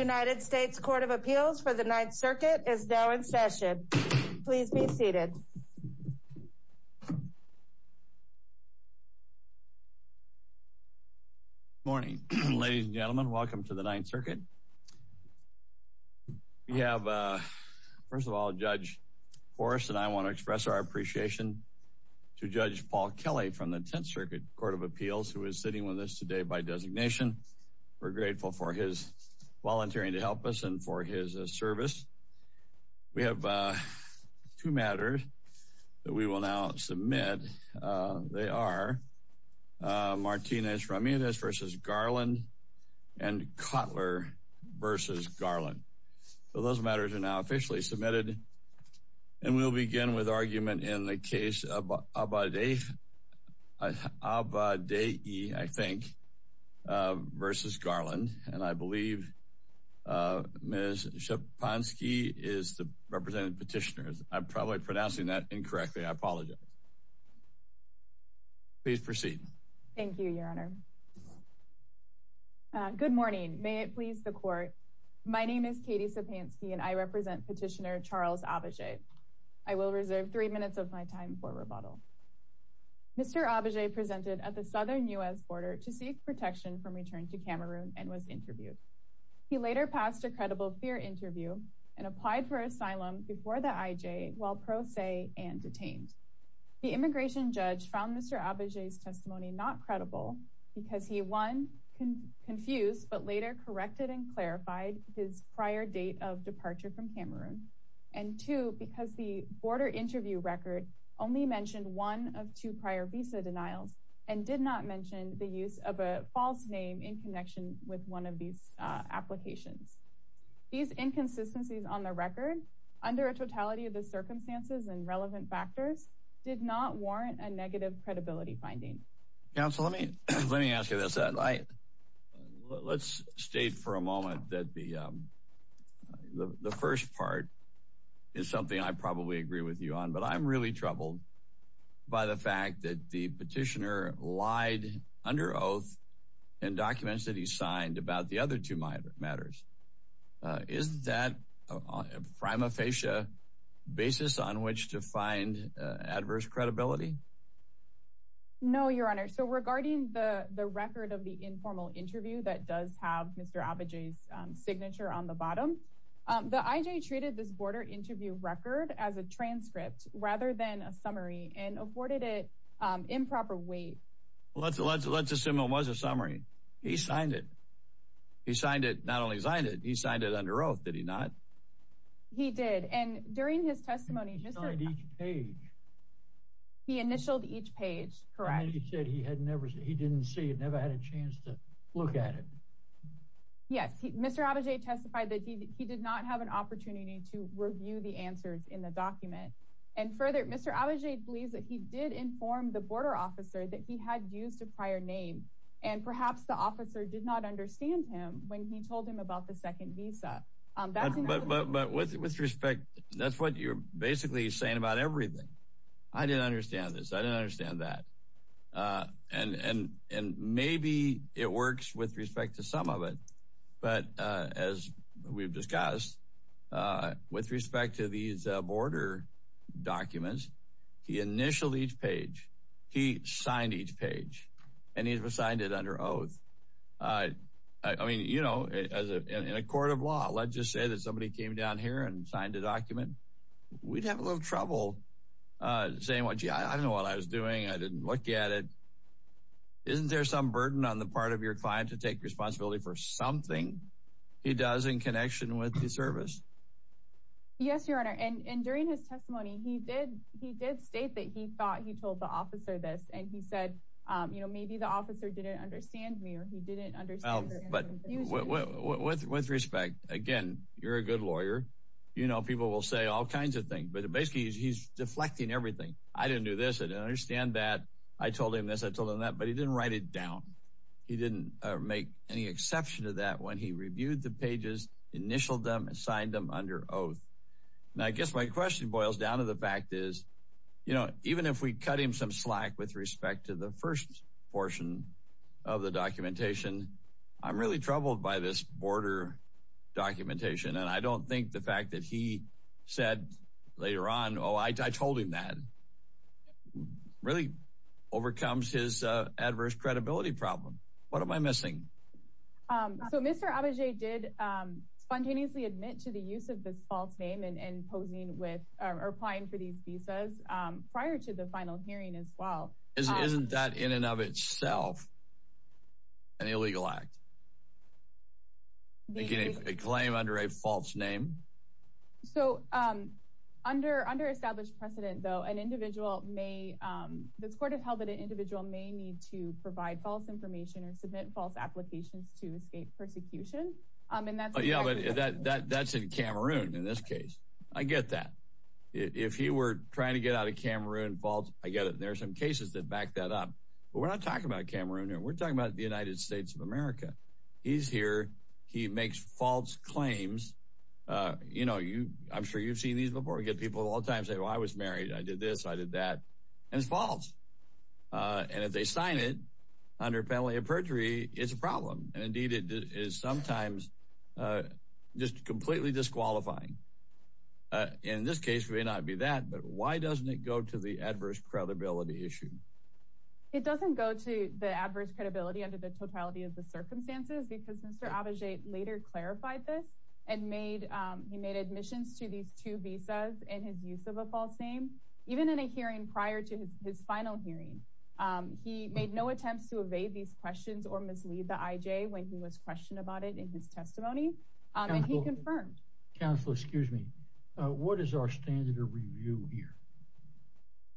United States Court of Appeals for the Ninth Circuit is now in session. Please be seated. Morning ladies and gentlemen. Welcome to the Ninth Circuit. We have first of all Judge Forrest and I want to express our appreciation to Judge Paul Kelly from the Tenth Circuit Court of Appeals who is sitting with us today by designation. We're grateful for his volunteering to help us and for his service. We have two matters that we will now submit. They are Martinez Ramirez v. Garland and Cutler v. Garland. So those matters are now officially submitted and we'll begin with argument in the case of Abadei v. Garland and I believe Ms. Szepanski is the representative petitioner. I'm probably pronouncing that incorrectly. I apologize. Please proceed. Thank you your honor. Good morning. May it please the court. My name is Katie Szepanski and I represent petitioner Charles Abadei. I will reserve three minutes of my time for rebuttal. Mr. Abadei presented at the southern U.S. border to seek protection from return to Cameroon and was interviewed. He later passed a credible fear interview and applied for asylum before the IJ while pro se and detained. The immigration judge found Mr. Abadei's testimony not credible because he one confused but later corrected and clarified his prior date of departure from Cameroon and two because the border interview record only mentioned one of two prior visa denials and did not mention the use of a false name in connection with one of these applications. These inconsistencies on the record under a totality of the circumstances and relevant factors did not warrant a negative credibility finding. Counsel let me let me ask you this. Let's state for a moment that the first part is something I probably agree with you on but I'm really troubled by the fact that the petitioner lied under oath in documents that he signed about the other two matters. Is that a prima facie basis on which to find adverse credibility? No your honor. So regarding the the record of the informal interview that does have Mr. Abadei's signature on the bottom. The IJ treated this border interview record as a transcript rather than a summary and afforded it improper weight. Let's let's let's assume it was a summary. He signed it. He signed it not only signed it he signed it under oath did he not? He did and during his testimony he initialed each page correct. He said he had never he didn't see it never had a chance to look at it. Yes Mr. Abadei testified that he did not have an opportunity to review the answers in the document and further Mr. Abadei believes that he did inform the border officer that he had used a prior name and perhaps the officer did not understand him when he told him about the second visa. But with respect that's what you're basically saying about everything. I didn't understand this. I didn't understand that and maybe it works with respect to some of it but as we've discussed with respect to these border documents he initialed each page. He signed each page and he was signed it under oath. I mean you know as a in a court of law let's just say that somebody came down here and signed a document we'd have a little trouble uh saying what gee I don't know what I was doing I didn't look at it. Isn't there some burden on the part of your client to take responsibility for something he does in connection with the service? Yes your honor and and during his testimony he did he did state that he thought he told the officer this and he said um you know maybe the officer didn't understand me or he didn't understand. But with respect again you're a good lawyer you know people will say all kinds of things but basically he's deflecting everything. I didn't do this. I didn't understand that. I told him this. I told him that but he didn't write it down. He didn't make any exception to that when he reviewed the pages initialed them and signed them under oath. Now I guess my question boils down to the fact is you know even if we cut him some slack with respect to the first portion of the documentation I'm really troubled by this border documentation and I don't think the fact that he said later on oh I told him that really overcomes his uh adverse credibility problem. What am I missing? Um so Mr. Abagay did um spontaneously admit to the use of this false and and posing with or applying for these visas um prior to the final hearing as well. Isn't isn't that in and of itself an illegal act? Making a claim under a false name? So um under under established precedent though an individual may um this court has held that an individual may need to provide false information or submit false applications to Cameroon in this case. I get that if he were trying to get out of Cameroon false I get it there are some cases that back that up but we're not talking about Cameroon here we're talking about the United States of America. He's here he makes false claims uh you know you I'm sure you've seen these before we get people all the time say well I was married I did this I did that and it's false uh and if they sign it under penalty of perjury it's a problem and indeed it is sometimes uh just completely disqualifying uh in this case may not be that but why doesn't it go to the adverse credibility issue? It doesn't go to the adverse credibility under the totality of the circumstances because Mr. Abagay later clarified this and made um he made admissions to these two visas and his use of a false name even in a hearing prior to his final hearing um he made no attempts to evade these questions or mislead the IJ when he was questioned about it in his testimony and he confirmed. Counselor excuse me what is our standard of review here?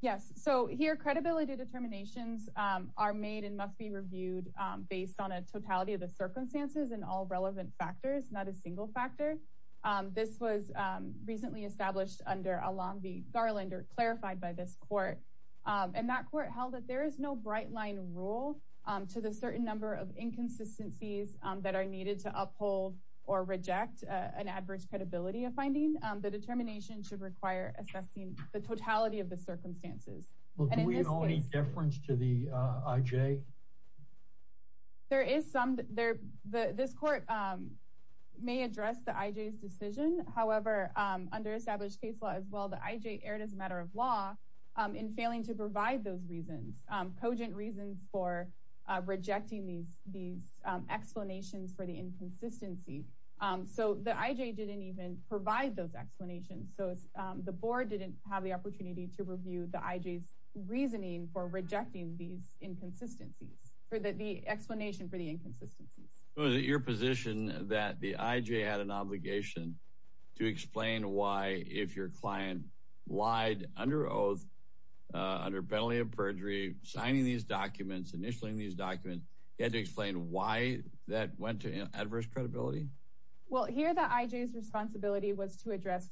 Yes so here credibility determinations um are made and must be reviewed um based on a totality of the circumstances and all relevant factors not a single factor um this was um recently established under a Long Beach Garland or clarified by this court um and that court held that there is no bright line rule um to the certain number of inconsistencies um that are needed to uphold or reject an adverse credibility of finding um the determination should require assessing the totality of the circumstances. Well do we owe any deference to the uh IJ? There is some there the this court um may address the IJ's decision however um under established case law as well the IJ erred as a matter of law in failing to provide those reasons um cogent reasons for rejecting these these explanations for the inconsistency um so the IJ didn't even provide those explanations so the board didn't have the opportunity to review the IJ's reasoning for rejecting these inconsistencies for the explanation for the inconsistencies. Was it your position that the IJ had an obligation to explain why if your client lied under oath uh under penalty of perjury signing these documents initialing these documents he had to explain why that went to adverse credibility? Well here the IJ's responsibility was to address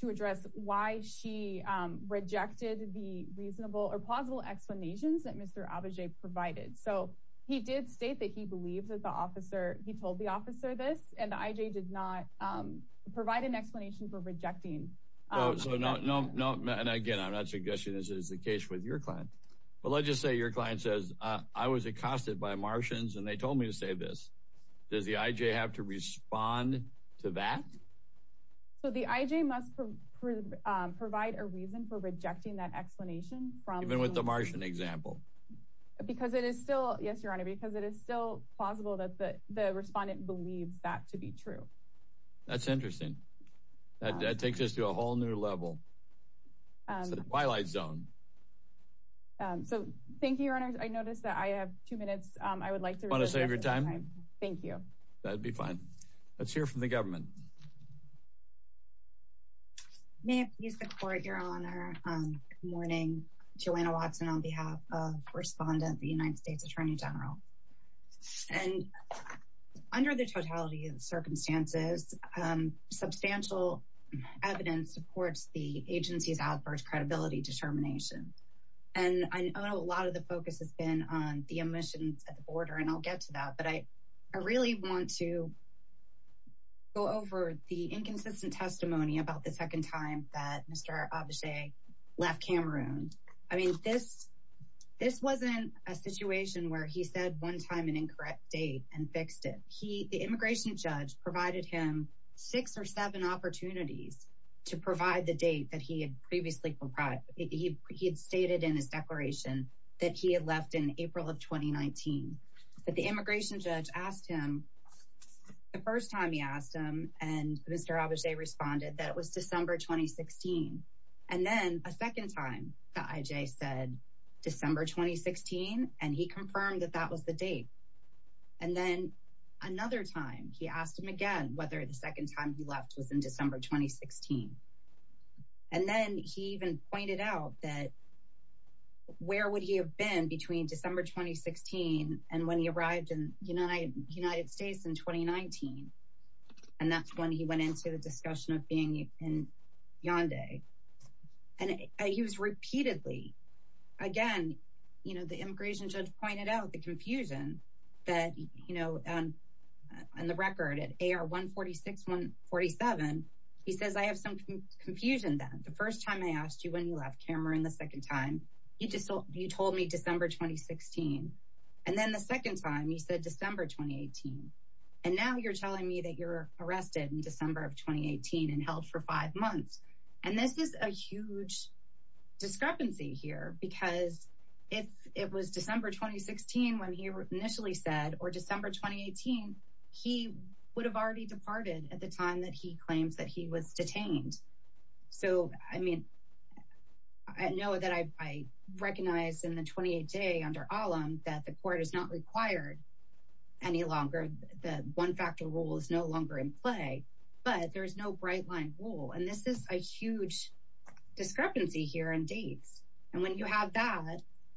to address why she um rejected the reasonable or plausible explanations that Mr. Abajay provided so he did state that he believes that the officer he told the officer this and the IJ did not um provide an explanation for rejecting. So no no no and again I'm not suggesting this is the case with your client but let's just say your client says uh I was accosted by Martians and they told me to say this does the IJ have to respond to that? So the IJ must provide a reason for rejecting that explanation from with the Martian example? Because it is still yes your honor because it is still plausible that the the respondent believes that to be true. That's interesting that takes us to a whole new level um it's a twilight zone. Um so thank you your honors I noticed that I have two minutes um I would like to want to save your time thank you that'd be fine let's hear from the government. May I please the court your honor um good morning Joanna Watson on behalf of respondent the United States Attorney General and under the totality of the circumstances um substantial evidence supports the agency's outburst credibility determination and I know a lot of the focus has been on the omissions at the border and I'll get to that but I I really want to go over the um the the inconsistent testimony about the second time that Mr. Abishai left Cameroon. I mean this this wasn't a situation where he said one time an incorrect date and fixed it he the immigration judge provided him six or seven opportunities to provide the date that he had previously provided he he had stated in his declaration that he had left in April of 2019. But the immigration judge asked him the first time he asked him and Mr. Abishai responded that it was December 2016 and then a second time the IJ said December 2016 and he confirmed that that was the date and then another time he asked him again whether the second time he left was in December 2016 and then he even pointed out that where would he have been between December 2016 and when he arrived in United United States in 2019 and that's when he went into the discussion of being in yonde and he was repeatedly again you know the immigration judge pointed out the confusion that you know um on the record at AR 146 147 he says I have some confusion then the first time I asked you when you left Cameroon the second time you just you told me December 2016 and then the second time you said December 2018 and now you're telling me that you're arrested in December of 2018 and held for five months and this is a huge discrepancy here because if it was December 2016 when he initially said or December 2018 he would have already departed at the time that he claims that he was detained so I mean I know that I recognize in the 28 day under allum that the court is not required any longer the one factor rule is no longer in play but there's no bright line rule and this is a huge discrepancy here in dates and when you have that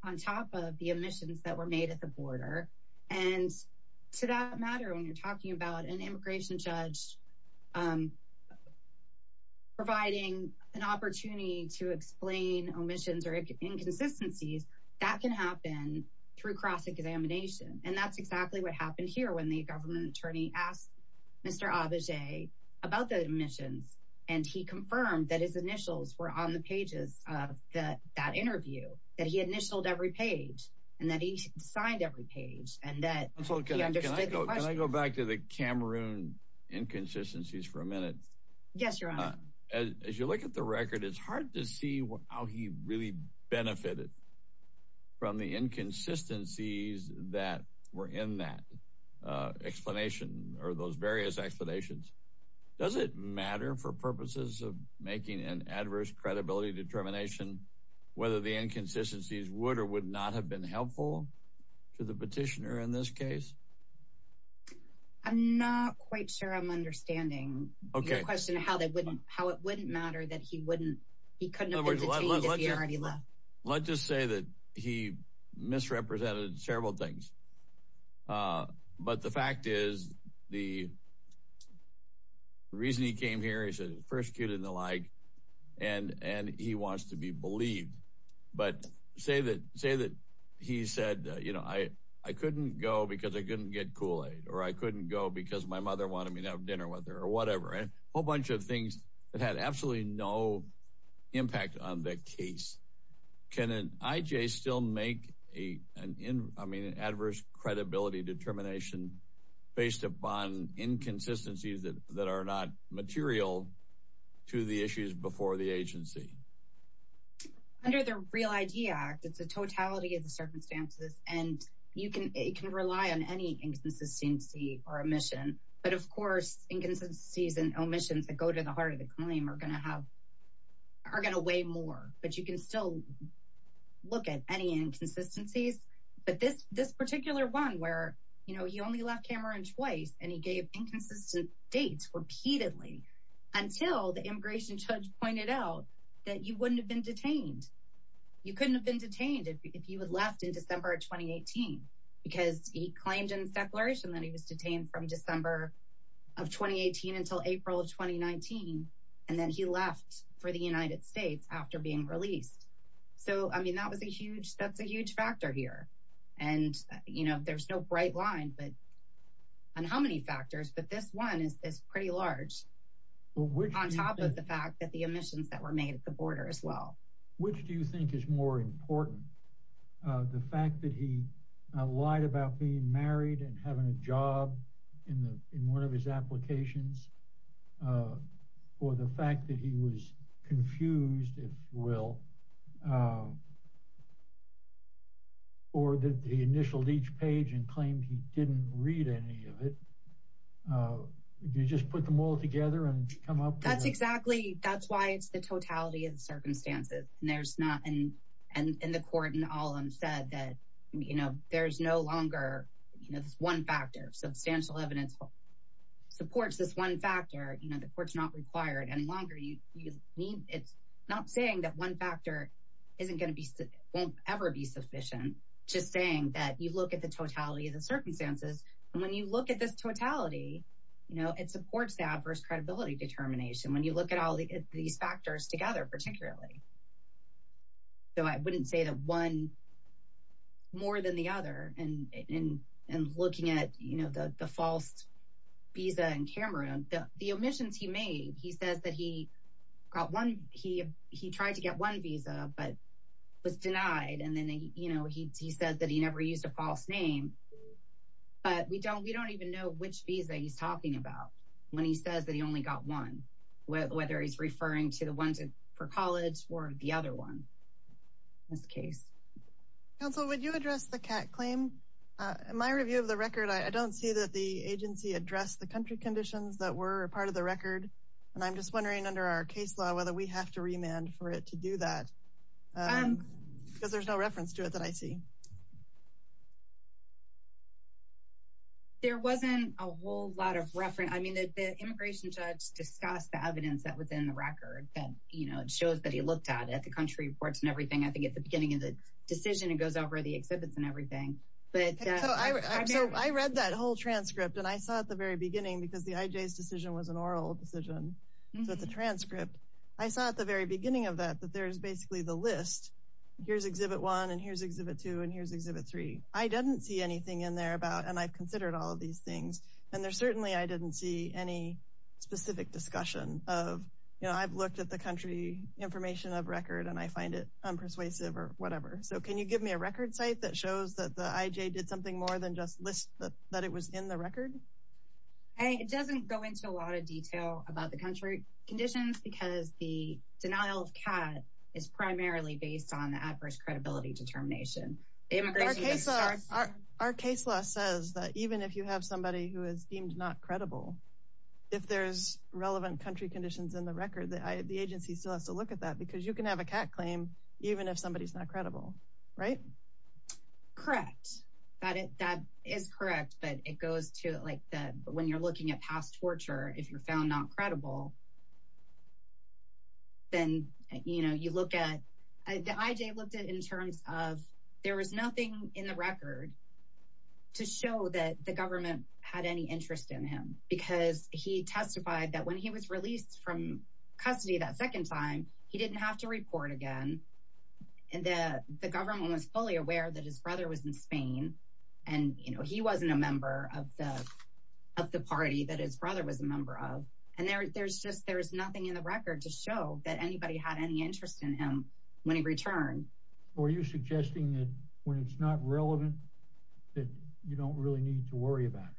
on top of the omissions that were made at the border and to that matter when you're talking about an immigration judge um providing an opportunity to explain omissions or inconsistencies that can happen through cross-examination and that's exactly what happened here when the government attorney asked Mr. Abagay about the omissions and he confirmed that his initials were on the pages of the that interview that he initialed every page and that he signed every page and that so can I go back to the Cameroon inconsistencies for a minute yes your honor as you look at the record it's hard to see how he really benefited from the inconsistencies that were in that uh explanation or those various explanations does it matter for purposes of making an adverse credibility determination whether the inconsistencies would or would not have been helpful to the petitioner in this case I'm not quite sure I'm understanding okay the question how they wouldn't how it wouldn't matter that he wouldn't he couldn't have already left let's just say that he misrepresented several things uh but the fact is the reason he came here he said persecuted and the like and and he wants to be believed but say that say that he said you know I I couldn't go because I couldn't get kool-aid or I couldn't go because my mother wanted me to have dinner with her or whatever a whole bunch of things that had absolutely no impact on the case can an IJ still make a an in I mean an adverse credibility determination based upon inconsistencies that that are not material to the issues before the agency under the real idea act it's a totality of the circumstances and you can it can rely on any inconsistency or omission but of course inconsistencies and omissions that go to the heart of the claim are going to have are going to weigh more but you can still look at any inconsistencies but this this particular one where you know you only left Cameron twice and he gave inconsistent dates repeatedly until the immigration judge pointed out that you wouldn't have been detained you couldn't have been detained if you had left in December of 2018 because he claimed in his declaration that he was detained from December of 2018 until April of 2019 and then he left for the United States after being released so I mean that was a huge that's a huge factor here and you know there's no bright line but on how many factors but this one is this pretty large on top of the fact that the omissions that were made at the border as well which do you think is more important uh the fact that he lied about being married and having a job in the in one of his applications uh or the fact that he was confused if you will uh or that he initialed each page and claimed he didn't read any of it uh did you just put them all together and come up that's exactly that's why it's the totality of the circumstances and there's not in and in the court and all them said that you know there's no longer you know one factor substantial evidence supports this one factor you know the court's not required any longer you you mean it's not saying that one factor isn't going to be won't ever be sufficient just saying that you look at the totality of the circumstances and when you look at this totality you know it supports the adverse credibility determination when you look at all these factors particularly so i wouldn't say that one more than the other and in and looking at you know the the false visa in cameroon the the omissions he made he says that he got one he he tried to get one visa but was denied and then you know he said that he never used a false name but we don't we don't even know which visa he's talking about when he says that he only got one whether he's referring to ones for college or the other one in this case counsel would you address the cat claim uh in my review of the record i don't see that the agency addressed the country conditions that were a part of the record and i'm just wondering under our case law whether we have to remand for it to do that um because there's no reference to it that i see there wasn't a whole lot of reference i mean the immigration judge discussed the evidence that was in the record and you know it shows that he looked at at the country reports and everything i think at the beginning of the decision it goes over the exhibits and everything but i read that whole transcript and i saw at the very beginning because the ij's decision was an oral decision so it's a transcript i saw at the very beginning of that that there's basically the list here's exhibit one and here's exhibit two and here's exhibit three i didn't see anything in there about and i've considered all of these things and there certainly i didn't see any specific discussion of you know i've looked at the country information of record and i find it unpersuasive or whatever so can you give me a record site that shows that the ij did something more than just list that it was in the record hey it doesn't go into a lot of detail about the country conditions because the denial of cat is primarily based on the adverse credibility determination immigration our case law says that even if you have somebody who is deemed not credible if there's relevant country conditions in the record that the agency still has to look at that because you can have a cat claim even if somebody's not credible right correct that it that is correct but it goes to like that when you're looking at past torture if you're found not credible then you know you look at the ij looked at in terms of there was nothing in the record to show that the government had any interest in him because he testified that when he was released from custody that second time he didn't have to report again and that the government was fully aware that his brother was in spain and you know he wasn't a member of of the party that his brother was a member of and there there's just there's nothing in the record to show that anybody had any interest in him when he returned were you suggesting that when it's not relevant that you don't really need to worry about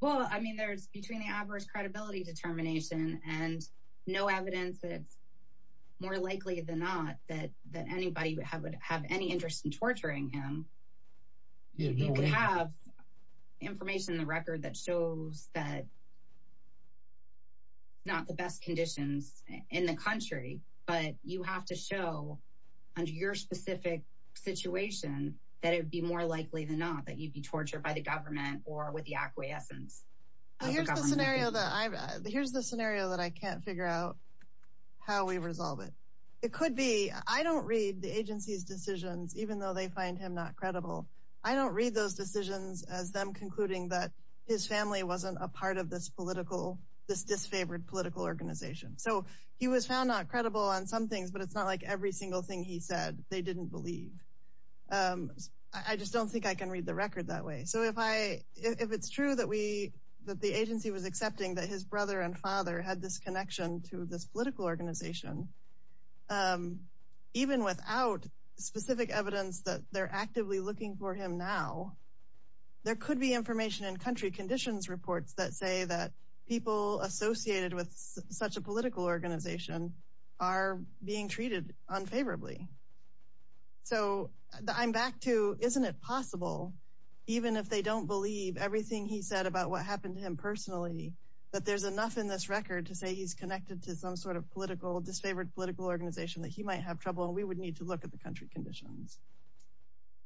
well i mean there's between the average credibility determination and no evidence it's more likely than not that that information in the record that shows that not the best conditions in the country but you have to show under your specific situation that it would be more likely than not that you'd be tortured by the government or with the acquiescence here's the scenario that i've here's the scenario that i can't figure out how we resolve it it could be i don't read the agency's decisions even though they find him not credible i don't read those decisions as them concluding that his family wasn't a part of this political this disfavored political organization so he was found not credible on some things but it's not like every single thing he said they didn't believe um i just don't think i can read the record that way so if i if it's true that we that the agency was accepting that his brother and father had this connection to this political organization um even without specific evidence that they're actively looking for him now there could be information in country conditions reports that say that people associated with such a political organization are being treated unfavorably so i'm back to isn't it possible even if they don't believe everything he said about what happened to him personally that there's enough in this record to say he's connected to some sort of political disfavored political organization that he might have trouble and we would need to the country conditions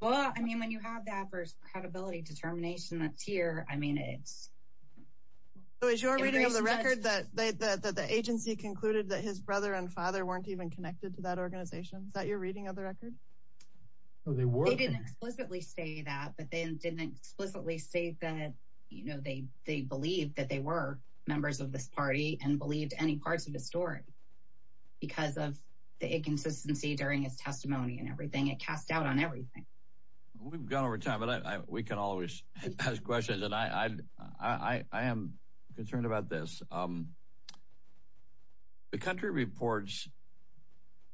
well i mean when you have that first credibility determination that's here i mean it's so is your reading of the record that the the agency concluded that his brother and father weren't even connected to that organization is that your reading of the record oh they were they didn't explicitly say that but they didn't explicitly say that you know they they believed that they were members of this party and believed any parts of his story because of the inconsistency during his testimony and everything it cast out on everything we've gone over time but i we can always ask questions and i i i am concerned about this um the country reports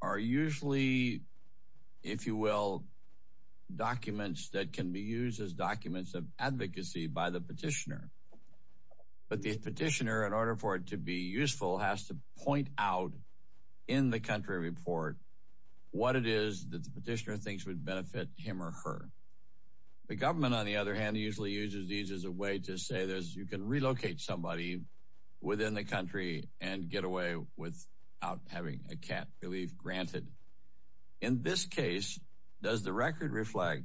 are usually if you will documents that can be used as documents of advocacy by the petitioner but the petitioner in order for it to be useful has to point out in the country report what it is that the petitioner thinks would benefit him or her the government on the other hand usually uses these as a way to say there's you can relocate somebody within the country and get away without having a cat relief granted in this case does the record reflect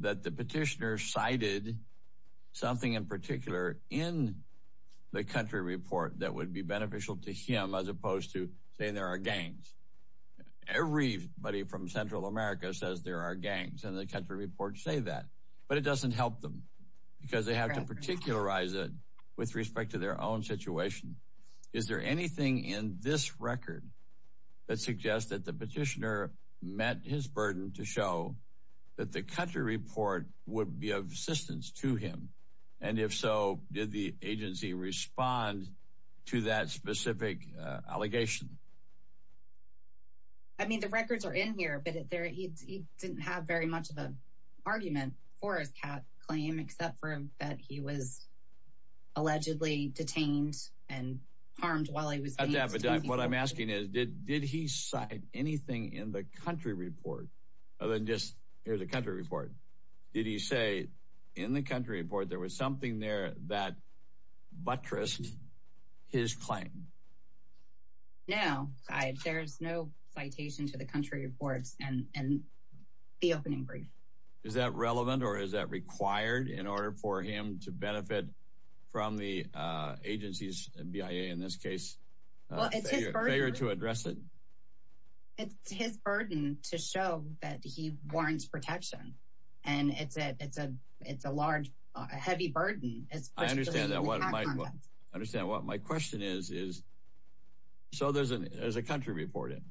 that the petitioner cited something in particular in the country report that would be beneficial to as opposed to saying there are gangs everybody from central america says there are gangs and the country reports say that but it doesn't help them because they have to particularize it with respect to their own situation is there anything in this record that suggests that the petitioner met his burden to show that the country report would be of assistance to him and if so did the agency respond to that specific uh allegation i mean the records are in here but there he didn't have very much of an argument for his cat claim except for that he was allegedly detained and harmed while he was what i'm asking is did did he cite anything in the country report there was something there that buttressed his claim no i there's no citation to the country reports and and the opening brief is that relevant or is that required in order for him to benefit from the uh agency's bia in this case well it's his failure to address it it's his burden to show that he warrants protection and it's a it's a it's a large heavy burden it's i understand that what i understand what my question is is so there's an there's a country report in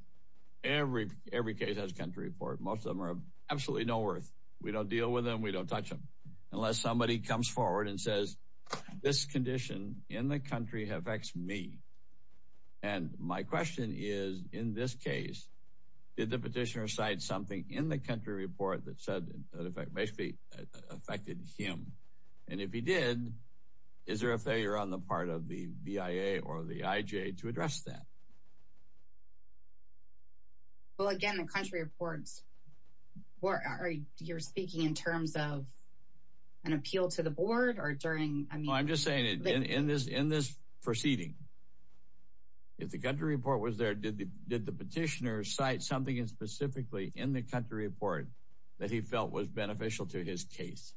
every every case has country report most of them are absolutely no worth we don't deal with them we don't touch them unless somebody comes forward and says this condition in the something in the country report that said that effect may be affected him and if he did is there a failure on the part of the bia or the ij to address that well again the country reports or are you're speaking in terms of an appeal to the board or during i mean i'm just saying it in this in this proceeding if the country report was there did the did the petitioner cite something specifically in the country report that he felt was beneficial to his case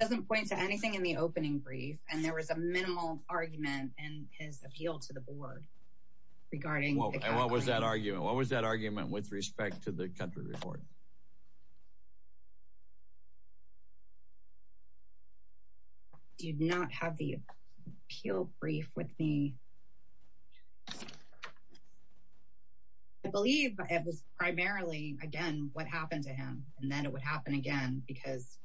doesn't point to anything in the opening brief and there was a minimal argument in his appeal to the board regarding what was that argument what was that argument with respect to the country report do you not have the appeal brief with me i believe it was primarily again what happened to him and then it would happen again because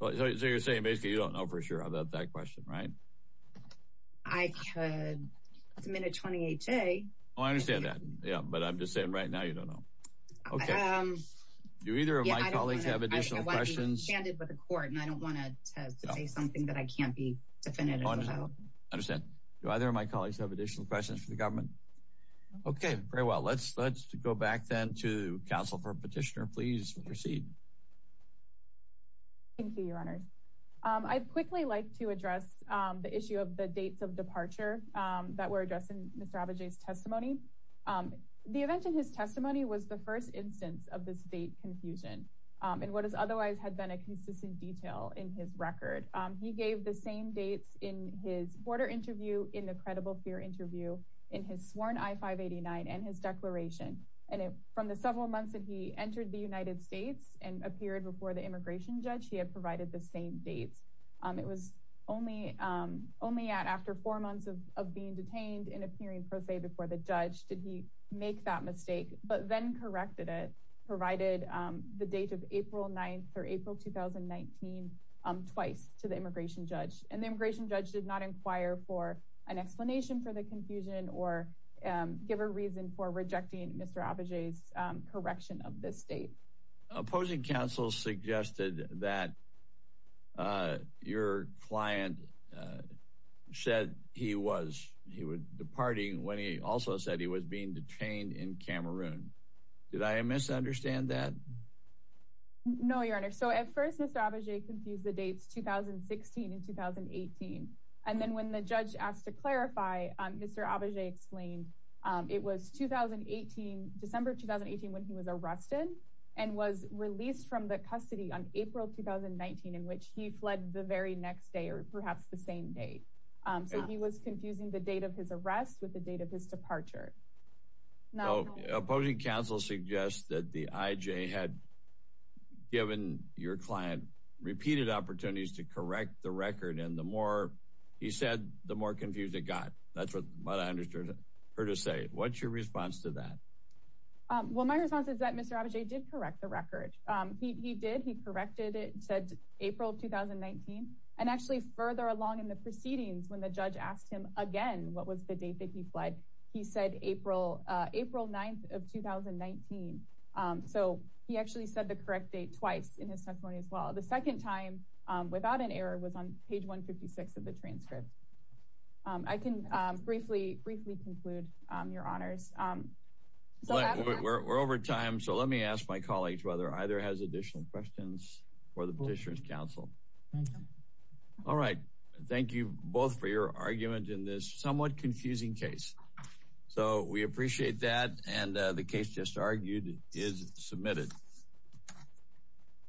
well so you're saying basically you don't know for sure about that question right i could submit a 28 day oh i understand that yeah but i'm just saying right now you don't know okay um do either of my colleagues have additional questions with the court and i don't want to say something that i can't be definitive about understand do either of my colleagues have additional questions for the government okay very well let's let's go back then to council for petitioner please proceed thank you your honors um i'd quickly like to address um the issue of the dates of departure um that were addressed in mr abajay's testimony um the event in his testimony was the first instance of this date confusion um and what has otherwise had been a consistent detail in his record um he gave the same dates in his border interview in the credible fear interview in his sworn i-589 and his declaration and it from the several months that he entered the united states and appeared before the immigration judge he had provided the same dates um it was only um only at after four months of of being detained and did he make that mistake but then corrected it provided um the date of april 9th or april 2019 um twice to the immigration judge and the immigration judge did not inquire for an explanation for the confusion or um give a reason for rejecting mr abajay's correction of this date opposing counsel suggested that uh your client uh said he was he was departing when he also said he was being detained in cameroon did i misunderstand that no your honor so at first mr abajay confused the dates 2016 and 2018 and then when the judge asked to clarify um mr abajay explained um it was 2018 december 2018 when he was arrested and was released from the custody on april 2019 in which he fled the very next day or perhaps the same day um so he was confusing the date of his arrest with the date of his departure now opposing counsel suggests that the ij had given your client repeated opportunities to correct the record and the more he said the more confused it got that's what i understood her to say what's your response to that um well my response is that mr abajay did correct the record um he did he corrected it said april 2019 and actually further along in the proceedings when the judge asked him again what was the date that he fled he said april uh april 9th of 2019 um so he actually said the correct date twice in his testimony as well the second time um without an error was on page 156 of the transcript um i can um briefly briefly conclude um your honors um we're over time so let me ask my colleagues whether either has additional questions for the petitioner's counsel all right thank you both for your argument in this somewhat confusing case so we appreciate that and the case just argued is submitted